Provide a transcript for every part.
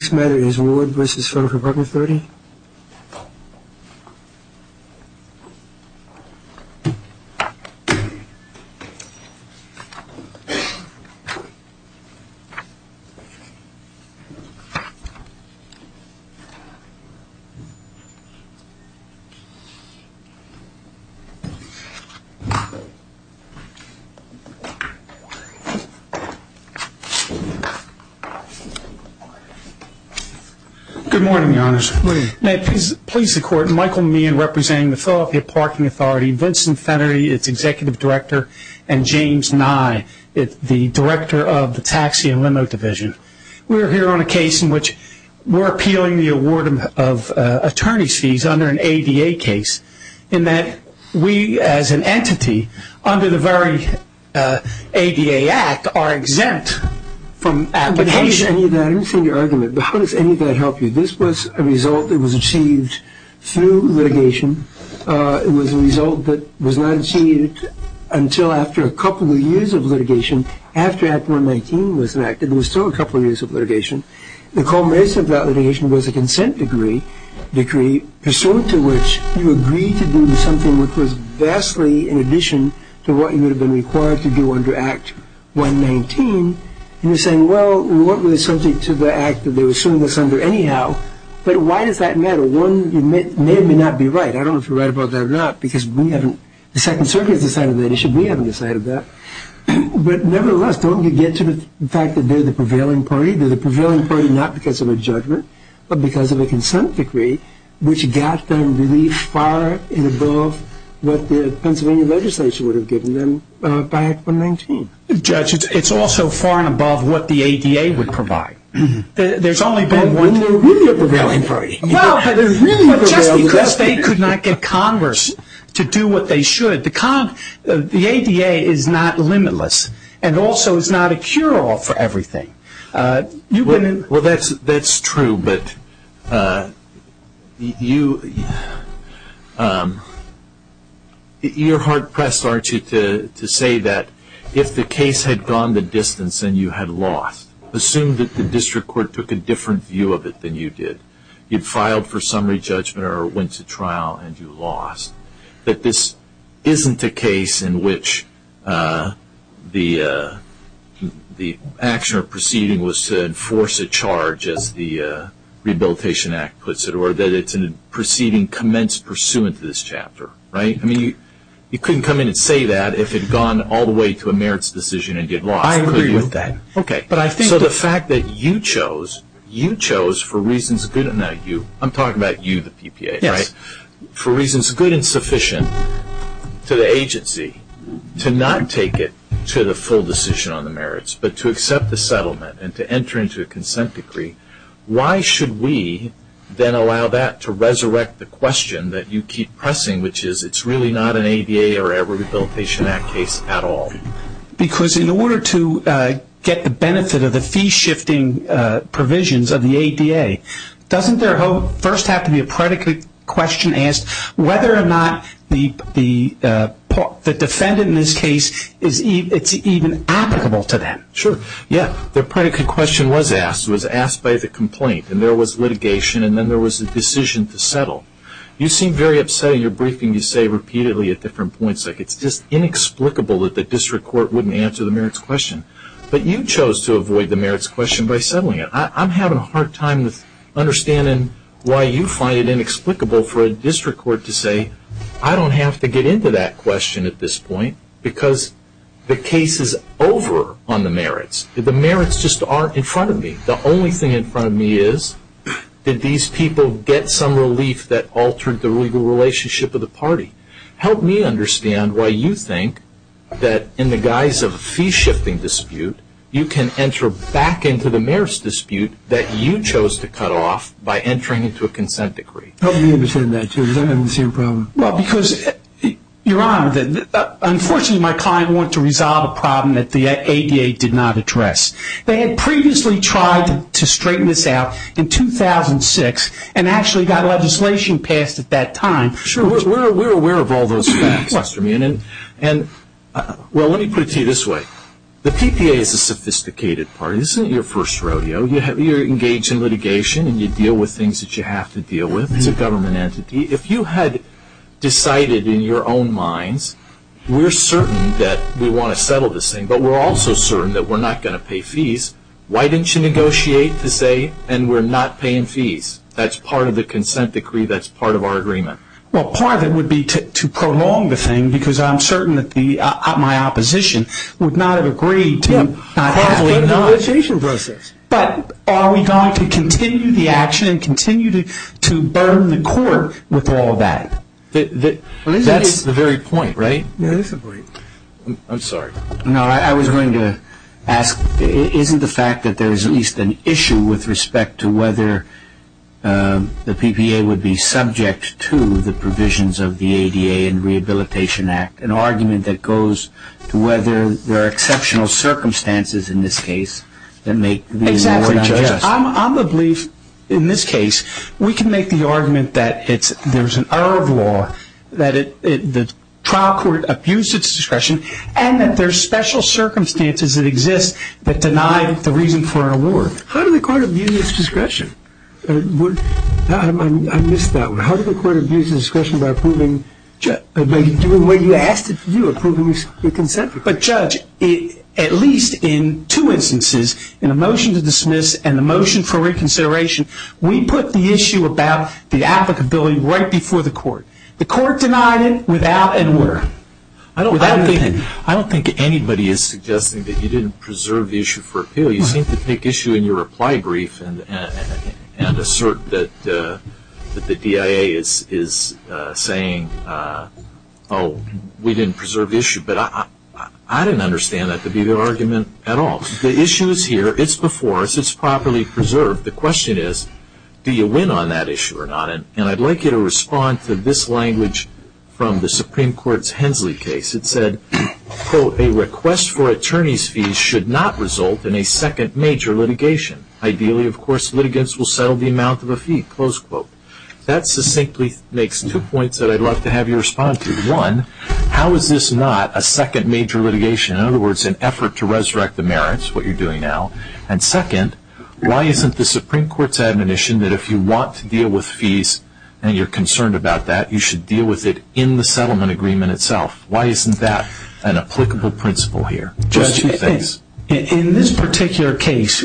This matter is Ward v. Philadelphia Parking Authority Good morning, Your Honor. Good morning. May it please the Court, Michael Meehan representing the Philadelphia Parking Authority, Vincent Fennerty, its Executive Director, and James Nye, the Director of the Taxi and Limo Division. We're here on a case in which we're appealing the award of attorney's fees under an ADA case in that we, as an entity, under the very ADA Act, are exempt from application. I haven't seen your argument, but how does any of that help you? This was a result that was achieved through litigation. It was a result that was not achieved until after a couple of years of litigation. After Act 119 was enacted, there was still a couple of years of litigation. The culmination of that litigation was a consent decree, pursuant to which you agreed to do something which was vastly in addition to what you would have been required to do under Act 119. And you're saying, well, we weren't really subject to the act that they were suing us under anyhow, but why does that matter? One, you may or may not be right. I don't know if you're right about that or not, because we haven't, the Second Circuit has decided that issue. We haven't decided that. But nevertheless, don't we get to the fact that they're the prevailing party? They're the prevailing party not because of a judgment, but because of a consent decree, which got them really far and above what the Pennsylvania legislature would have given them by Act 119. Judge, it's also far and above what the ADA would provide. There's only been one. They're really the prevailing party. Well, just because they could not get Congress to do what they should, the ADA is not limitless and also is not a cure-all for everything. Well, that's true. But you're hard-pressed, aren't you, to say that if the case had gone the distance and you had lost, assume that the district court took a different view of it than you did. You'd filed for summary judgment or went to trial and you lost, that this isn't a case in which the action or proceeding was to enforce a charge, as the Rehabilitation Act puts it, or that it's a proceeding commenced pursuant to this chapter, right? I mean, you couldn't come in and say that if it had gone all the way to a merits decision and you'd lost. I agree with that. Okay. So the fact that you chose, you chose for reasons good enough. I'm talking about you, the PPA, right? For reasons good and sufficient to the agency to not take it to the full decision on the merits, but to accept the settlement and to enter into a consent decree, why should we then allow that to resurrect the question that you keep pressing, which is it's really not an ADA or a Rehabilitation Act case at all? Because in order to get the benefit of the fee-shifting provisions of the ADA, doesn't there first have to be a predicate question asked whether or not the defendant in this case, it's even applicable to them? Sure. Yeah. The predicate question was asked. It was asked by the complaint, and there was litigation, and then there was a decision to settle. You seem very upset in your briefing. You say repeatedly at different points, like it's just inexplicable that the district court wouldn't answer the merits question. But you chose to avoid the merits question by settling it. I'm having a hard time understanding why you find it inexplicable for a district court to say, I don't have to get into that question at this point because the case is over on the merits. The merits just aren't in front of me. The only thing in front of me is, did these people get some relief that altered the legal relationship of the party? Help me understand why you think that in the guise of a fee-shifting dispute, you can enter back into the merits dispute that you chose to cut off by entering into a consent decree. Help me understand that, too, because I'm having the same problem. Well, because, Your Honor, unfortunately, my client wanted to resolve a problem that the ADA did not address. They had previously tried to straighten this out in 2006 and actually got legislation passed at that time. Sure. We're aware of all those facts, Mr. Meehan. Well, let me put it to you this way. The PPA is a sophisticated party. This isn't your first rodeo. You're engaged in litigation and you deal with things that you have to deal with. It's a government entity. If you had decided in your own minds, we're certain that we want to settle this thing, but we're also certain that we're not going to pay fees, why didn't you negotiate to say, and we're not paying fees? That's part of the consent decree. That's part of our agreement. Well, part of it would be to prolong the thing because I'm certain that my opposition would not have agreed to not have legalized. Part of the litigation process. But are we going to continue the action and continue to burn the court with all of that? That's the very point, right? That is the point. I'm sorry. No, I was going to ask, isn't the fact that there's at least an issue with respect to whether the PPA would be subject to the provisions of the ADA and Rehabilitation Act, an argument that goes to whether there are exceptional circumstances in this case that make the lawyer unjust? Exactly. I'm of the belief in this case we can make the argument that there's an error of law, that the trial court abused its discretion, and that there's special circumstances that exist that deny the reason for an award. How did the court abuse its discretion? I missed that one. How did the court abuse its discretion by approving, by doing what you asked it to do, approving the consent decree? But, Judge, at least in two instances, in the motion to dismiss and the motion for reconsideration, we put the issue about the applicability right before the court. The court denied it without a word. I don't think anybody is suggesting that you didn't preserve the issue for appeal. You seem to take issue in your reply brief and assert that the DIA is saying, oh, we didn't preserve the issue. But I didn't understand that to be the argument at all. The issue is here. It's before us. It's properly preserved. The question is, do you win on that issue or not? And I'd like you to respond to this language from the Supreme Court's Hensley case. It said, quote, a request for attorney's fees should not result in a second major litigation. Ideally, of course, litigants will settle the amount of a fee, close quote. That succinctly makes two points that I'd love to have you respond to. One, how is this not a second major litigation? In other words, an effort to resurrect the merits, what you're doing now. And second, why isn't the Supreme Court's admonition that if you want to deal with fees and you're concerned about that, you should deal with it in the settlement agreement itself? Why isn't that an applicable principle here? Judge, in this particular case,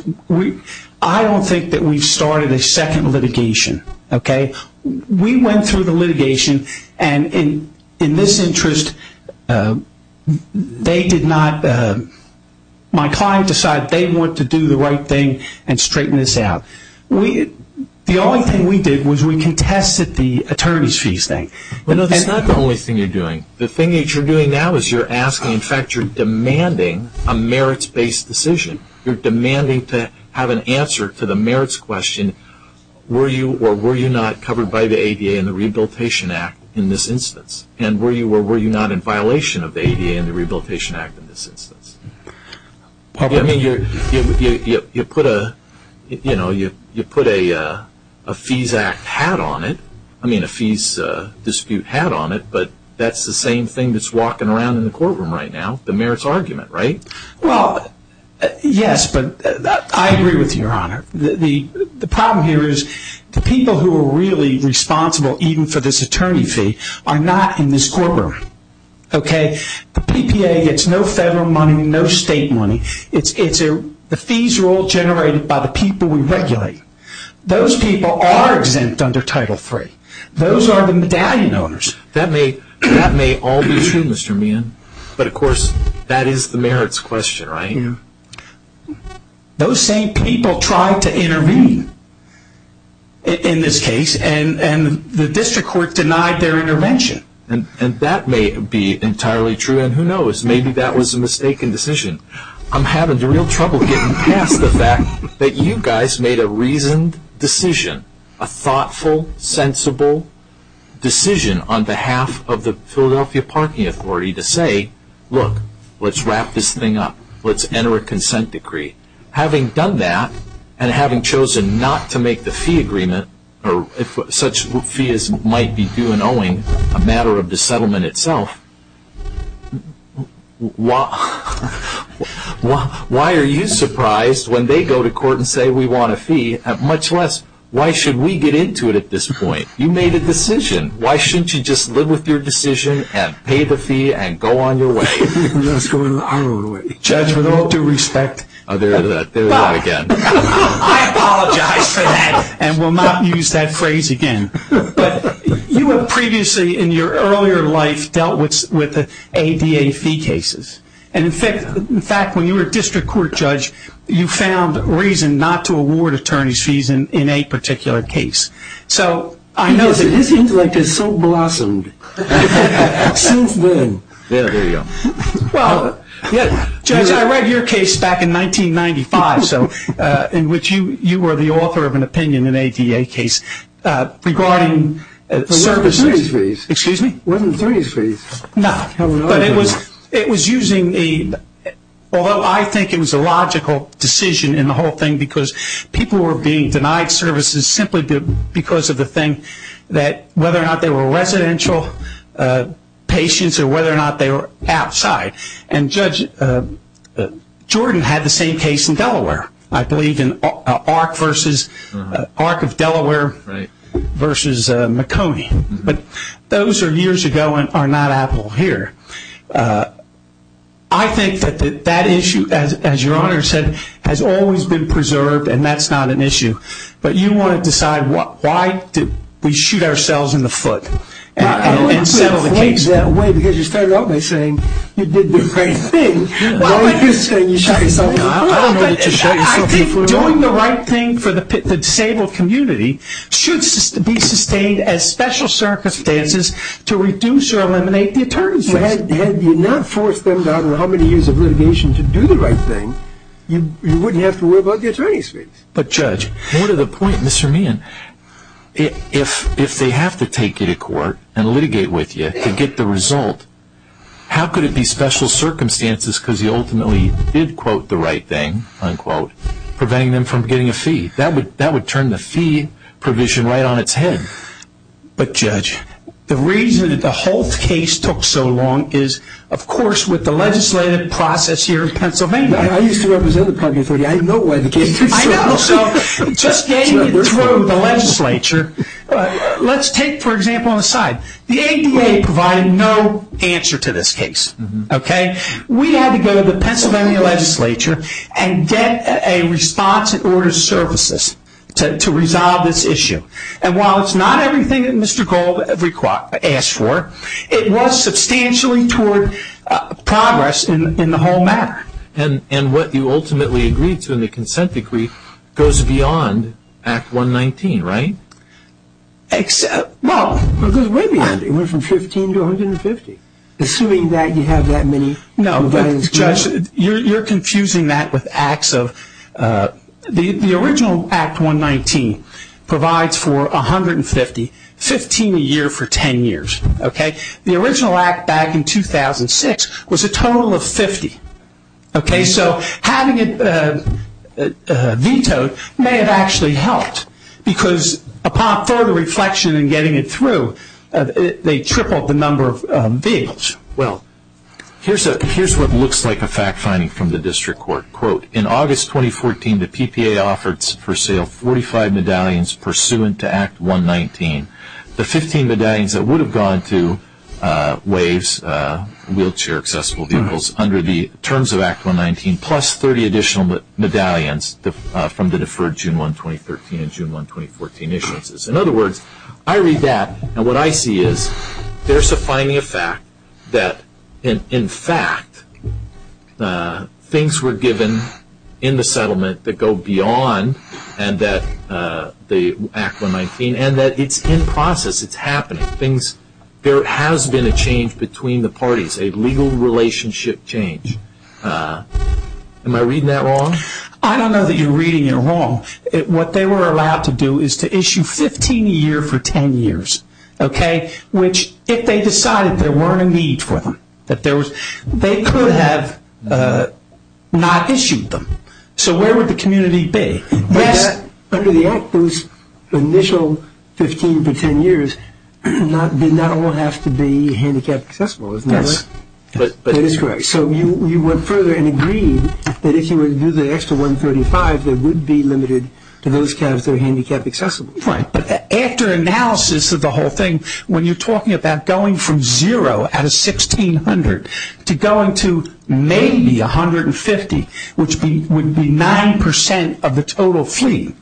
I don't think that we've started a second litigation. Okay? We went through the litigation. And in this interest, they did not, my client decided they want to do the right thing and straighten this out. The only thing we did was we contested the attorney's fees thing. Well, no, that's not the only thing you're doing. The thing that you're doing now is you're asking, in fact, you're demanding a merits-based decision. You're demanding to have an answer to the merits question, were you or were you not covered by the ADA and the Rehabilitation Act in this instance? And were you or were you not in violation of the ADA and the Rehabilitation Act in this instance? You put a fees act hat on it, I mean a fees dispute hat on it, but that's the same thing that's walking around in the courtroom right now, the merits argument, right? Well, yes, but I agree with you, Your Honor. The problem here is the people who are really responsible even for this attorney fee are not in this courtroom. Okay? The PPA gets no federal money, no state money. The fees are all generated by the people we regulate. Those people are exempt under Title III. Those are the medallion owners. That may all be true, Mr. Meehan, but, of course, that is the merits question, right? Those same people tried to intervene in this case, and the district court denied their intervention. And that may be entirely true, and who knows, maybe that was a mistaken decision. I'm having real trouble getting past the fact that you guys made a reasoned decision, a thoughtful, sensible decision on behalf of the Philadelphia Parking Authority to say, Look, let's wrap this thing up. Let's enter a consent decree. Having done that, and having chosen not to make the fee agreement, or such fees might be due in owing a matter of the settlement itself, why are you surprised when they go to court and say we want a fee, much less why should we get into it at this point? You made a decision. Why shouldn't you just live with your decision and pay the fee and go on your way? Judge, with all due respect, I apologize for that and will not use that phrase again. You have previously in your earlier life dealt with ADA fee cases. In fact, when you were a district court judge, you found reason not to award attorney's fees in a particular case. This intellect is so blossomed since then. Well, Judge, I read your case back in 1995, in which you were the author of an opinion in an ADA case regarding services. It wasn't attorney's fees. No, but it was using a, although I think it was a logical decision in the whole thing, because people were being denied services simply because of the thing that whether or not they were residential patients or whether or not they were outside. And Judge Jordan had the same case in Delaware, I believe, in ARC of Delaware versus McConey. But those are years ago and are not Apple here. I think that that issue, as your Honor said, has always been preserved and that's not an issue. But you want to decide why did we shoot ourselves in the foot and settle the case? I wouldn't put it that way because you started off by saying you did the right thing. Why would you say you shot yourself in the foot? I don't know that you shot yourself in the foot at all. I think doing the right thing for the disabled community should be sustained as special circumstances to reduce or eliminate the attorney's fees. Had you not forced them to have how many years of litigation to do the right thing, you wouldn't have to worry about the attorney's fees. But Judge, more to the point, Mr. Meehan, if they have to take you to court and litigate with you to get the result, how could it be special circumstances because you ultimately did quote the right thing, unquote, preventing them from getting a fee? That would turn the fee provision right on its head. But Judge, the reason that the Holt case took so long is, of course, with the legislative process here in Pennsylvania. I used to represent the public authority. I know why the case took so long. I know. So just getting it through the legislature. Let's take, for example, an aside. The ADA provided no answer to this case. We had to go to the Pennsylvania legislature and get a response in order of services to resolve this issue. And while it's not everything that Mr. Gold asked for, it was substantially toward progress in the whole matter. And what you ultimately agreed to in the consent decree goes beyond Act 119, right? Well, it goes way beyond. It went from 15 to 150. Assuming that you have that many. Judge, you're confusing that with acts of the original Act 119 provides for 150, 15 a year for 10 years. Okay? The original act back in 2006 was a total of 50. Okay? So having it vetoed may have actually helped because upon further reflection and getting it through, they tripled the number of vehicles. Well, here's what looks like a fact finding from the district court. Quote, in August 2014, the PPA offered for sale 45 medallions pursuant to Act 119. The 15 medallions that would have gone to WAVES, wheelchair accessible vehicles, under the terms of Act 119 plus 30 additional medallions from the deferred June 1, 2013 and June 1, 2014 issuances. In other words, I read that and what I see is there's a finding of fact that, in fact, things were given in the settlement that go beyond the Act 119 and that it's in process. It's happening. There has been a change between the parties, a legal relationship change. Am I reading that wrong? I don't know that you're reading it wrong. What they were allowed to do is to issue 15 a year for 10 years, okay, which if they decided there weren't a need for them, that there was, they could have not issued them. So where would the community be? Under the Act, those initial 15 for 10 years did not all have to be handicapped accessible, isn't that right? Yes. That is correct. So you went further and agreed that if you were to do the extra 135, they would be limited to those kinds of handicapped accessible. Right. But after analysis of the whole thing, when you're talking about going from zero out of 1,600 to going to maybe 150, which would be 9% of the total fleet,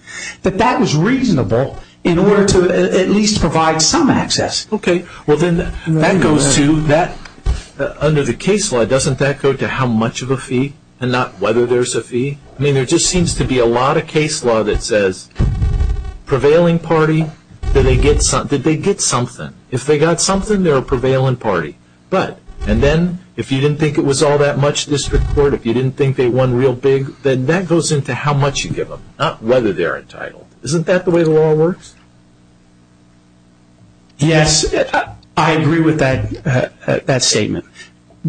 that that was reasonable in order to at least provide some access. Okay. Under the case law, doesn't that go to how much of a fee and not whether there's a fee? I mean, there just seems to be a lot of case law that says prevailing party, that they get something. If they got something, they're a prevailing party. And then if you didn't think it was all that much district court, if you didn't think they won real big, then that goes into how much you give them, not whether they're entitled. Isn't that the way the law works? Yes. I agree with that statement.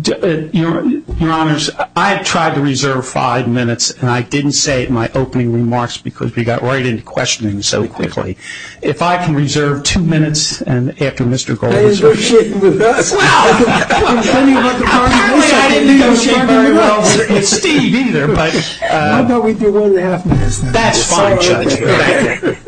Your Honors, I've tried to reserve five minutes, and I didn't say it in my opening remarks because we got right into questioning so quickly. If I can reserve two minutes after Mr. Goldberg. I didn't negotiate very well with Steve either. Why don't we do one and a half minutes? That's fine, Judge. Okay.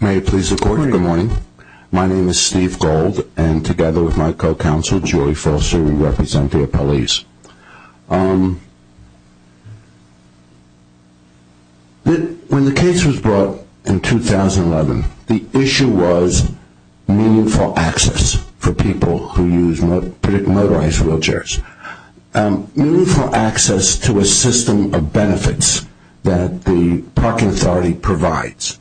May it please the Court, good morning. My name is Steve Gold, and together with my co-counsel, Julie Foster, we represent the appellees. When the case was brought in 2011, the issue was meaningful access for people who use motorized wheelchairs. Meaningful access to a system of benefits that the parking authority provides.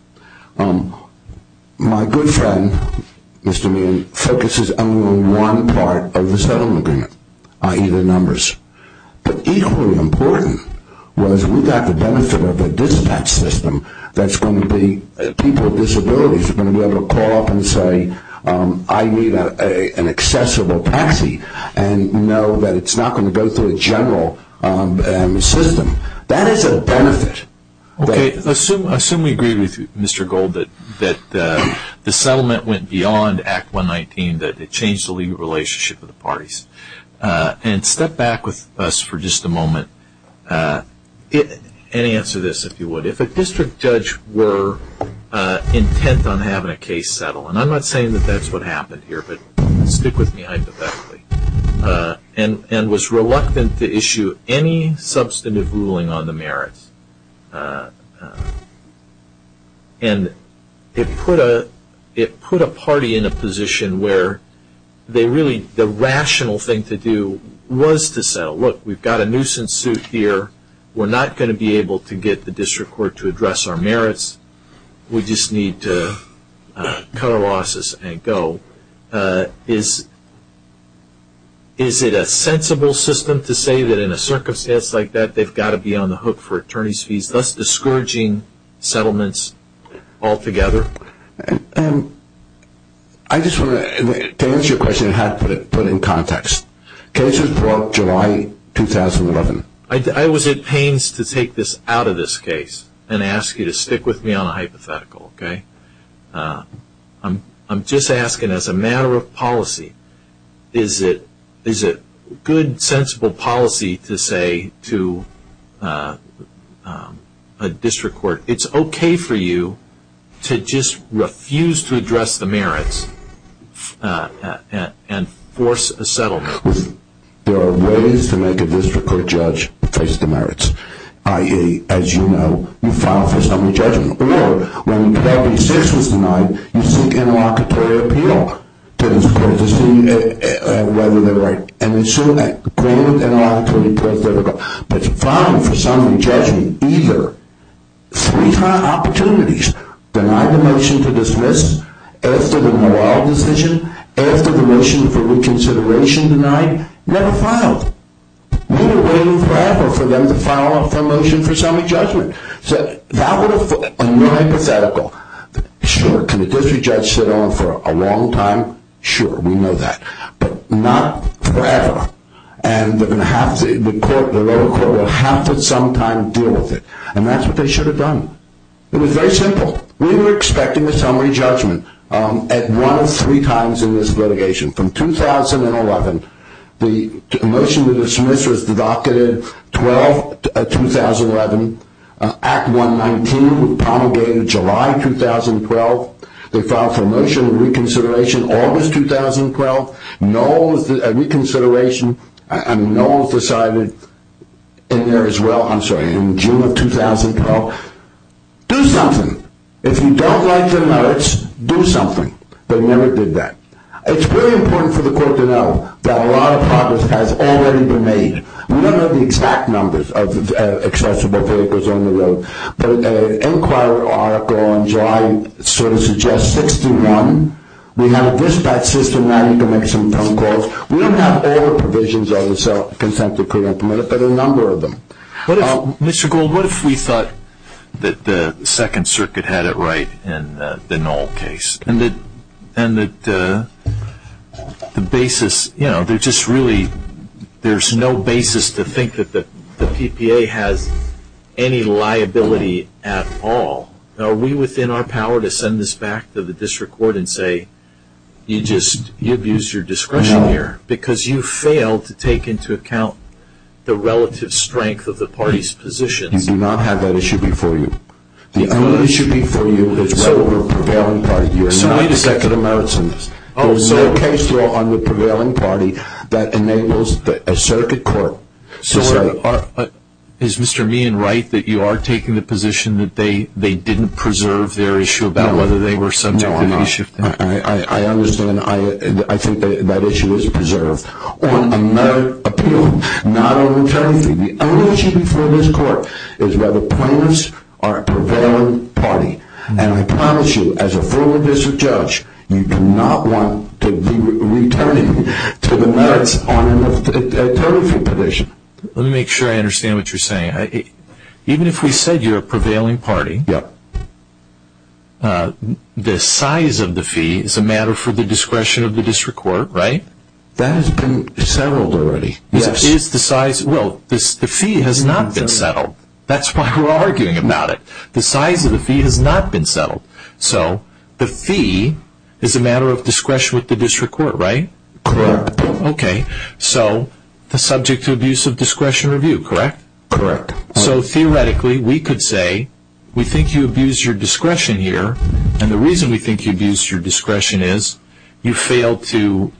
My good friend, Mr. Meehan, focuses only on one part of the settlement agreement, i.e. the numbers. But equally important was we got the benefit of a dispatch system that's going to be people with disabilities are going to be able to call up and say, I need an accessible taxi, and know that it's not going to go through a general system. That is a benefit. Okay. Assume we agree with you, Mr. Goldberg, that the settlement went beyond Act 119, that it changed the legal relationship of the parties. And step back with us for just a moment and answer this, if you would. If a district judge were intent on having a case settled, and I'm not saying that that's what happened here, but stick with me hypothetically, and was reluctant to issue any substantive ruling on the merits, and it put a party in a position where they really, the rational thing to do was to settle. Look, we've got a nuisance suit here. We're not going to be able to get the district court to address our merits. We just need to cut our losses and go. Is it a sensible system to say that in a circumstance like that, they've got to be on the hook for attorney's fees, thus discouraging settlements altogether? To answer your question, I have to put it in context. Cases broke July 2011. I was at pains to take this out of this case and ask you to stick with me on a hypothetical. I'm just asking as a matter of policy, is it good, sensible policy to say to a district court, it's okay for you to just refuse to address the merits and force a settlement? There are ways to make a district court judge face the merits, i.e., as you know, you file for summary judgment, or when 12B6 was denied, you seek interlocutory appeal to see whether they're right, and it's sort of that granted interlocutory appeal that's difficult, but you file for summary judgment either three high opportunities, denied the motion to dismiss, asked for the morale decision, asked for the motion for reconsideration denied, never filed. We were waiting forever for them to file a motion for summary judgment. So that was a hypothetical. Sure, can a district judge sit on for a long time? Sure, we know that, but not forever, and the lower court will have to sometime deal with it, and that's what they should have done. It was very simple. We were expecting a summary judgment at one of three times in this litigation. From 2011, the motion to dismiss was deducted 12-2011, Act 119 promulgated July 2012, they filed for a motion of reconsideration August 2012, a reconsideration, and no one's decided in there as well, I'm sorry, in June of 2012. Do something. If you don't like the merits, do something. They never did that. It's really important for the court to know that a lot of progress has already been made. We don't know the exact numbers of accessible vehicles on the road, but an inquiry article in July sort of suggests 61. We have a dispatch system. Now you can make some phone calls. We don't have all the provisions of the self-consent decree implemented, but a number of them. Mr. Gould, what if we thought that the Second Circuit had it right in the Knoll case, and that the basis, you know, there's just really, there's no basis to think that the PPA has any liability at all. Are we within our power to send this back to the district court and say, you just abused your discretion here because you failed to take into account the relative strength of the party's position? You do not have that issue before you. The only issue before you is whether we're a prevailing party. You are not a second of merits in this. There's no case law on the prevailing party that enables a circuit court to say. Is Mr. Meehan right that you are taking the position that they didn't preserve their issue about whether they were subject to the issue? No, I'm not. I understand. I think that issue is preserved on a merit appeal, not a return fee. The only issue before this court is whether plaintiffs are a prevailing party. And I promise you, as a former district judge, you do not want to be returning to the merits on a third-of-fee position. Let me make sure I understand what you're saying. Even if we said you're a prevailing party, the size of the fee is a matter for the discretion of the district court, right? That has been settled already. Well, the fee has not been settled. That's why we're arguing about it. The size of the fee has not been settled. So the fee is a matter of discretion with the district court, right? Correct. Okay. So the subject to abuse of discretion review, correct? Correct. So theoretically, we could say we think you abused your discretion here, and the reason we think you abused your discretion is you failed to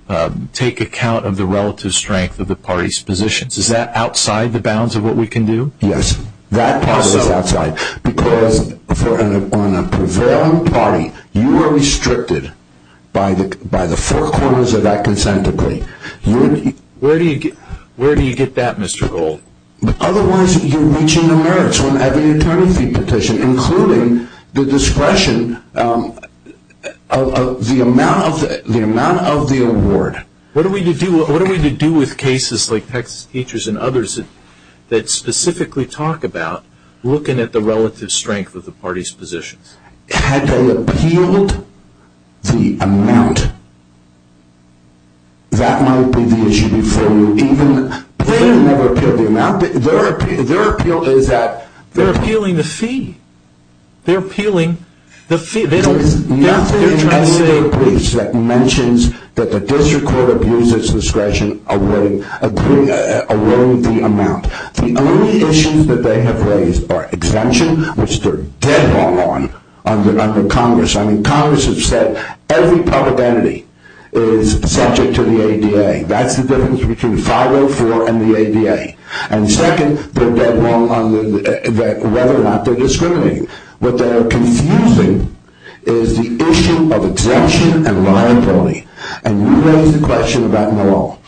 take account of the relative strength of the party's positions. Is that outside the bounds of what we can do? Yes. That part is outside, because on a prevailing party, you are restricted by the four corners of that consent decree. Where do you get that, Mr. Gold? Otherwise, you're reaching the merits when having a third-of-fee petition, including the discretion of the amount of the award. What are we to do with cases like Texas Teachers and others that specifically talk about looking at the relative strength of the party's positions? Had they appealed the amount, that might be the issue for you. They never appealed the amount. Their appeal is that they're appealing the fee. They're appealing the fee. There's nothing in the state briefs that mentions that the district court abused its discretion awarding the amount. The only issues that they have raised are exemption, which they're dead wrong on, under Congress. I mean, Congress has said every public entity is subject to the ADA. That's the difference between 504 and the ADA. And second, they're dead wrong on whether or not they're discriminating. What they are confusing is the issue of exemption and reliability. And you raised the question about New York.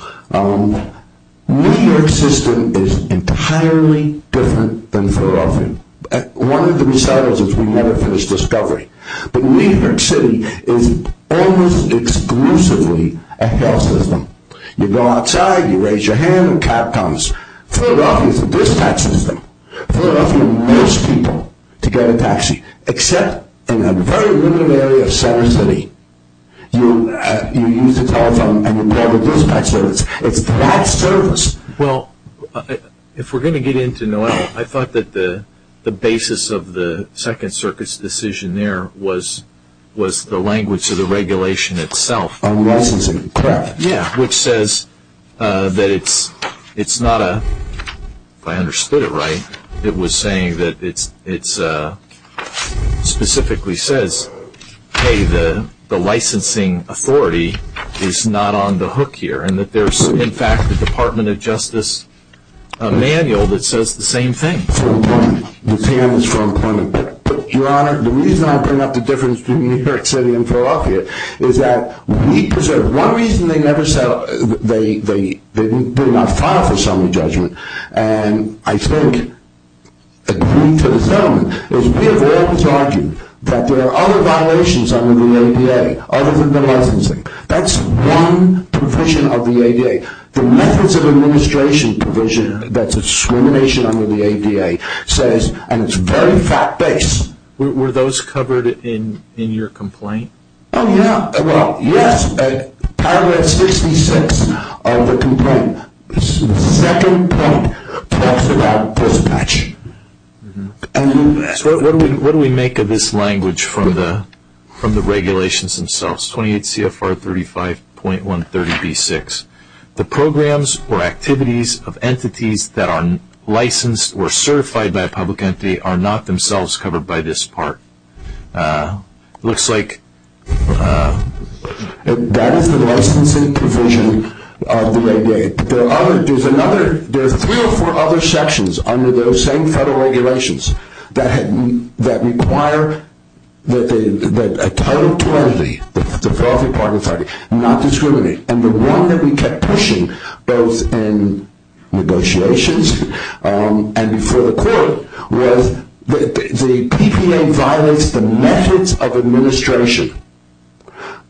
New York's system is entirely different than Philadelphia. One of the results is we never finish discovery. But New York City is almost exclusively a health system. You go outside, you raise your hand, a cop comes. Philadelphia is a dispatch system. Philadelphia emails people to get a taxi, except in a very limited area of center city. You use the telephone and you call the dispatch service. It's that service. Well, if we're going to get into NOAA, I thought that the basis of the Second Circuit's decision there was the language of the regulation itself. Licensing. Correct. Yeah, which says that it's not a – if I understood it right, it was saying that it specifically says, hey, the licensing authority is not on the hook here. And that there's, in fact, the Department of Justice manual that says the same thing. The reason I bring up the difference between New York City and Philadelphia is that we preserve – one reason they never – they did not file for summary judgment, and I think, according to the gentleman, is we have always argued that there are other violations under the ADA other than the licensing. That's one provision of the ADA. The methods of administration provision that's discrimination under the ADA says – and it's very fact-based. Were those covered in your complaint? Oh, yeah. Well, yes. Paragraph 66 of the complaint, the second point, talks about dispatching. So what do we make of this language from the regulations themselves? 28 CFR 35.130B6. The programs or activities of entities that are licensed or certified by a public entity are not themselves covered by this part. It looks like – That is the licensing provision of the ADA. There are three or four other sections under those same federal regulations that require that a Title 20, the Philadelphia Parking Authority, not discriminate. And the one that we kept pushing, both in negotiations and before the court, was the PPA violates the methods of administration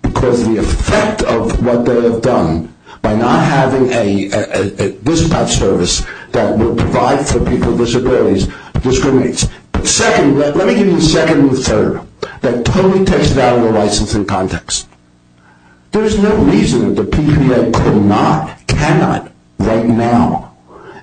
because of the effect of what they have done by not having a dispatch service that would provide for people with disabilities, discriminates. Second – let me give you the second and the third. That totally takes it out of the licensing context. There is no reason that the PPA could not, cannot right now,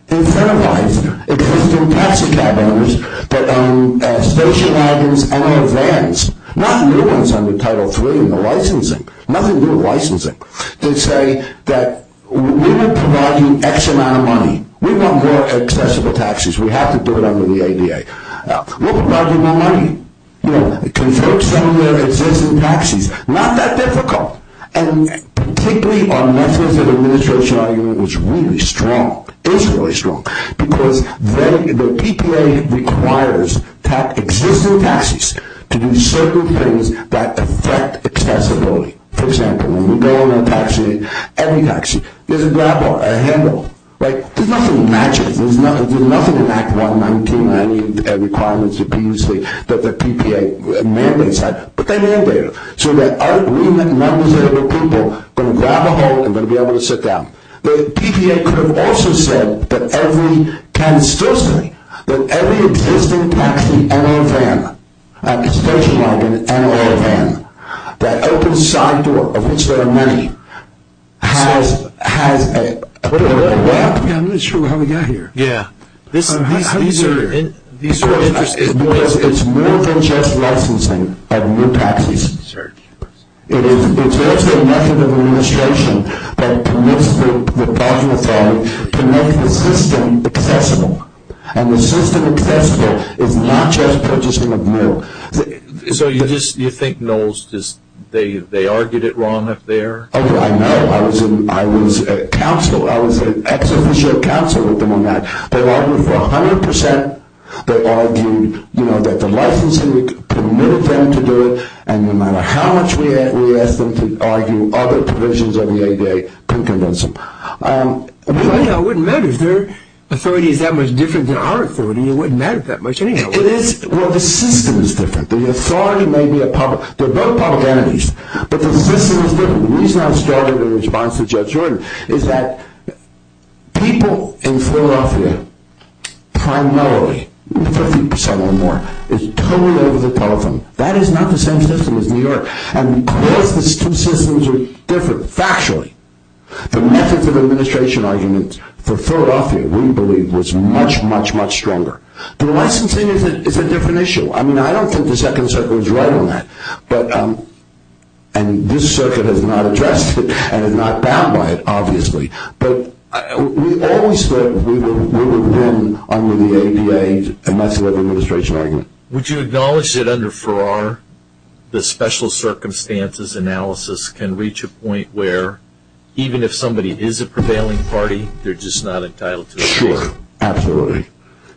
incentivize existing taxi cab owners that own station wagons and other vans, not new ones under Title III in the licensing, nothing new in licensing, to say that we will provide you X amount of money. We want more accessible taxis. We have to do it under the ADA. We'll provide you more money. Convert some of your existing taxis. Not that difficult. And particularly our methods of administration argument was really strong, is really strong, because the PPA requires existing taxis to do certain things that affect accessibility. For example, when we go in a taxi, every taxi, there's a grab bar, a handle, right? There's nothing that matches. There's nothing in Act 119 or any of the requirements that the PPA mandates, but they're all there. So there are agreement numbers there where people are going to grab a hold and going to be able to sit down. The PPA could have also said that every existing taxi and a van, a station wagon and a van, that opens side door, of which there are many, has a permit. I'm not sure how we got here. Yeah. These are interesting. Because it's more than just licensing of new taxis. It's just a method of administration that permits the parking authority to make the system accessible. And the system accessible is not just purchasing of new. So you think NOLS, they argued it wrong up there? I know. I was at council. I was at ex-officio council with them on that. They argued for 100%. They argued that the licensing permitted them to do it, and no matter how much we asked them to argue, other provisions of the ADA couldn't convince them. Well, it wouldn't matter. If their authority is that much different than our authority, it wouldn't matter that much anyhow. It is. Well, the system is different. The authority may be a public. They're both public entities. But the system is different. The reason I started in response to Judge Jordan is that people in Philadelphia, primarily, 50% or more, is totally over the telephone. That is not the same system as New York. And because these two systems are different factually, the method of administration argument for Philadelphia, we believe, was much, much, much stronger. The licensing is a different issue. I mean, I don't think the second circuit was right on that. But we always thought we would win under the ADA, and that's the method of administration argument. Would you acknowledge that under Farrar, the special circumstances analysis can reach a point where even if somebody is a prevailing party, they're just not entitled to it? Sure. Absolutely.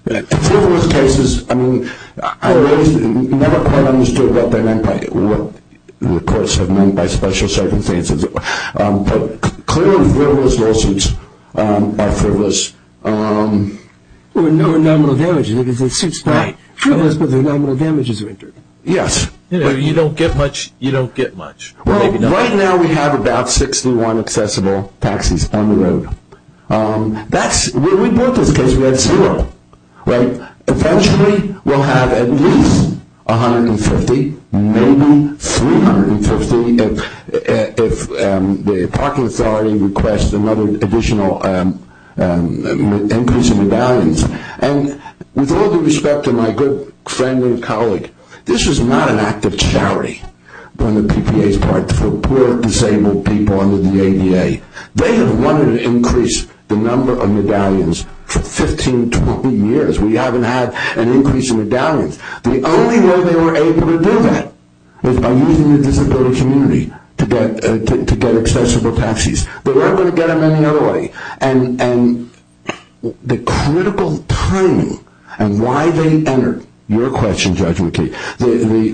In some of those cases, I mean, I never quite understood what they meant by what the courts have meant by special circumstances. But clearly, those lawsuits are frivolous. There were no nominal damages. It suits that. True. But the nominal damages are injured. Yes. But you don't get much. You don't get much. Well, right now, we have about 61 accessible taxis on the road. We brought this because we had zero, right? Eventually, we'll have at least 150, maybe 350, if the parking authority requests another additional increase in medallions. And with all due respect to my good friend and colleague, this is not an act of charity on the PPA's part for poor, disabled people under the ADA. They have wanted to increase the number of medallions for 15, 20 years. We haven't had an increase in medallions. The only way they were able to do that was by using the disability community to get accessible taxis. They weren't going to get them any other way. And the critical timing and why they entered your question, Judge McKee,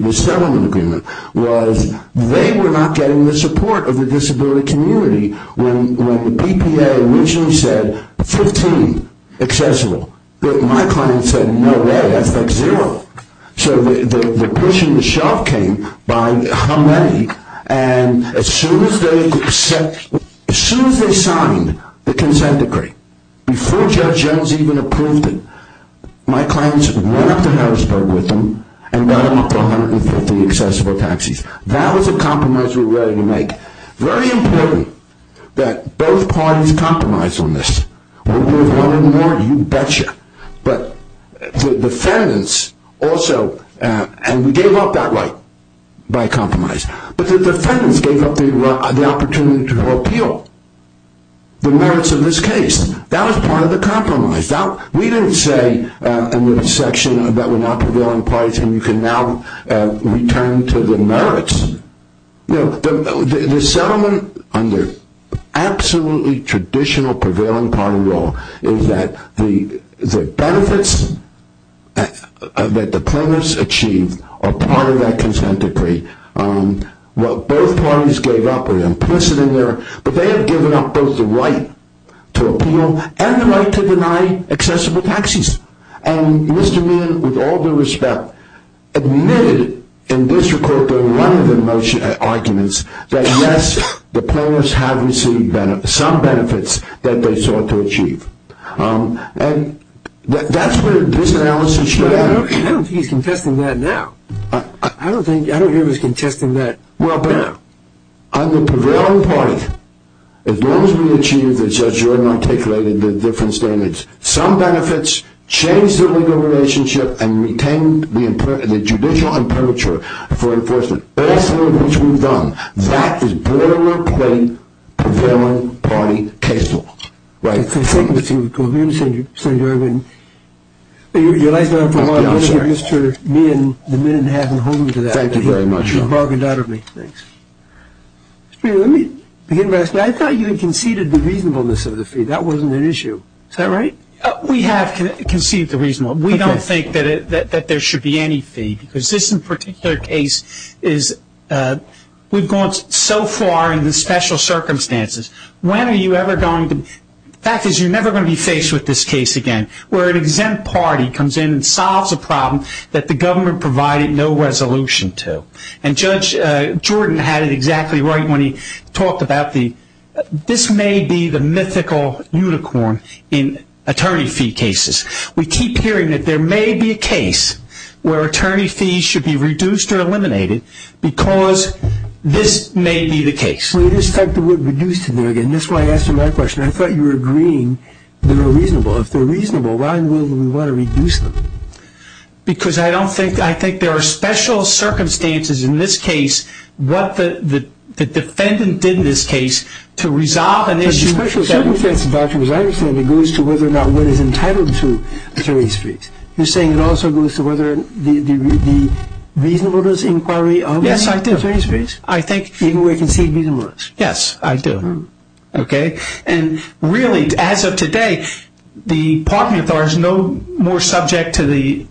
the settlement agreement was they were not getting the support of the disability community when the PPA originally said 15 accessible. But my client said, no way, that's like zero. So the push on the shelf came by how many, and as soon as they signed the consent decree, before Judge Jones even approved it, my clients went up to Harrisburg with them and got them up to 150 accessible taxis. That was a compromise we were ready to make. Very important that both parties compromise on this. One more, you betcha. But the defendants also, and we gave up that right by compromise, but the defendants gave up the opportunity to appeal the merits of this case. That was part of the compromise. We didn't say in the section that we're not prevailing parties and you can now return to the merits. The settlement under absolutely traditional prevailing party law is that the benefits that the plaintiffs achieved are part of that consent decree. What both parties gave up were implicit in there, but they had given up both the right to appeal and the right to deny accessible taxis. And Mr. Meehan, with all due respect, admitted in this recording, one of the arguments, that yes, the plaintiffs have received some benefits that they sought to achieve. And that's where this analysis showed up. I don't think he's contesting that now. I don't think he was contesting that. Well, but on the prevailing party, as long as we achieve, as Judge Jordan articulated, the different standards, some benefits change the legal relationship and retain the judicial imperature for enforcement. All of which we've done. That is politically prevailing party case law. Right. Thank you, Mr. Jordan. Your life's not for a lot of benefit, Mr. Meehan. The minute hasn't hold you to that. Thank you very much. You've bargained out of me. Thanks. Mr. Meehan, let me begin by saying I thought you had conceded the reasonableness of the fee. That wasn't an issue. Is that right? We have conceded the reasonableness. We don't think that there should be any fee. Because this in particular case is, we've gone so far in the special circumstances. When are you ever going to, the fact is you're never going to be faced with this case again. Where an exempt party comes in and solves a problem that the government provided no resolution to. And Judge Jordan had it exactly right when he talked about the, this may be the mythical unicorn in attorney fee cases. We keep hearing that there may be a case where attorney fees should be reduced or eliminated. Because this may be the case. Well, you just typed the word reduced in there again. That's why I asked you my question. I thought you were agreeing they were reasonable. If they're reasonable, why would we want to reduce them? Because I don't think, I think there are special circumstances in this case. What the defendant did in this case to resolve an issue. The special circumstances, as far as I understand it, goes to whether or not one is entitled to attorney's fees. You're saying it also goes to whether the reasonableness inquiry of attorney's fees. Yes, I do. I think. Even where it conceded reasonableness. Yes, I do. Okay. And really, as of today, the parking authority is no more subject to the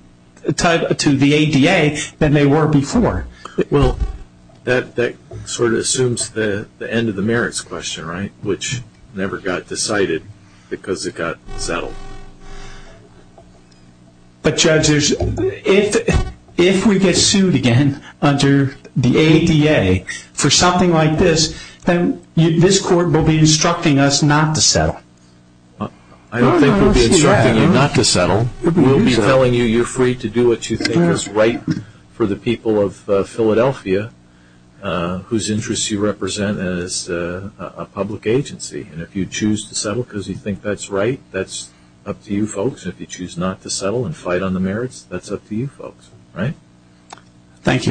ADA than they were before. Well, that sort of assumes the end of the merits question, right? Which never got decided because it got settled. But, Judge, if we get sued again under the ADA for something like this, then this court will be instructing us not to settle. I don't think we'll be instructing you not to settle. We'll be telling you you're free to do what you think is right for the people of Philadelphia, whose interests you represent as a public agency. And if you choose to settle because you think that's right, that's up to you folks. If you choose not to settle and fight on the merits, that's up to you folks. Right? Thank you. Thank you. Thank you.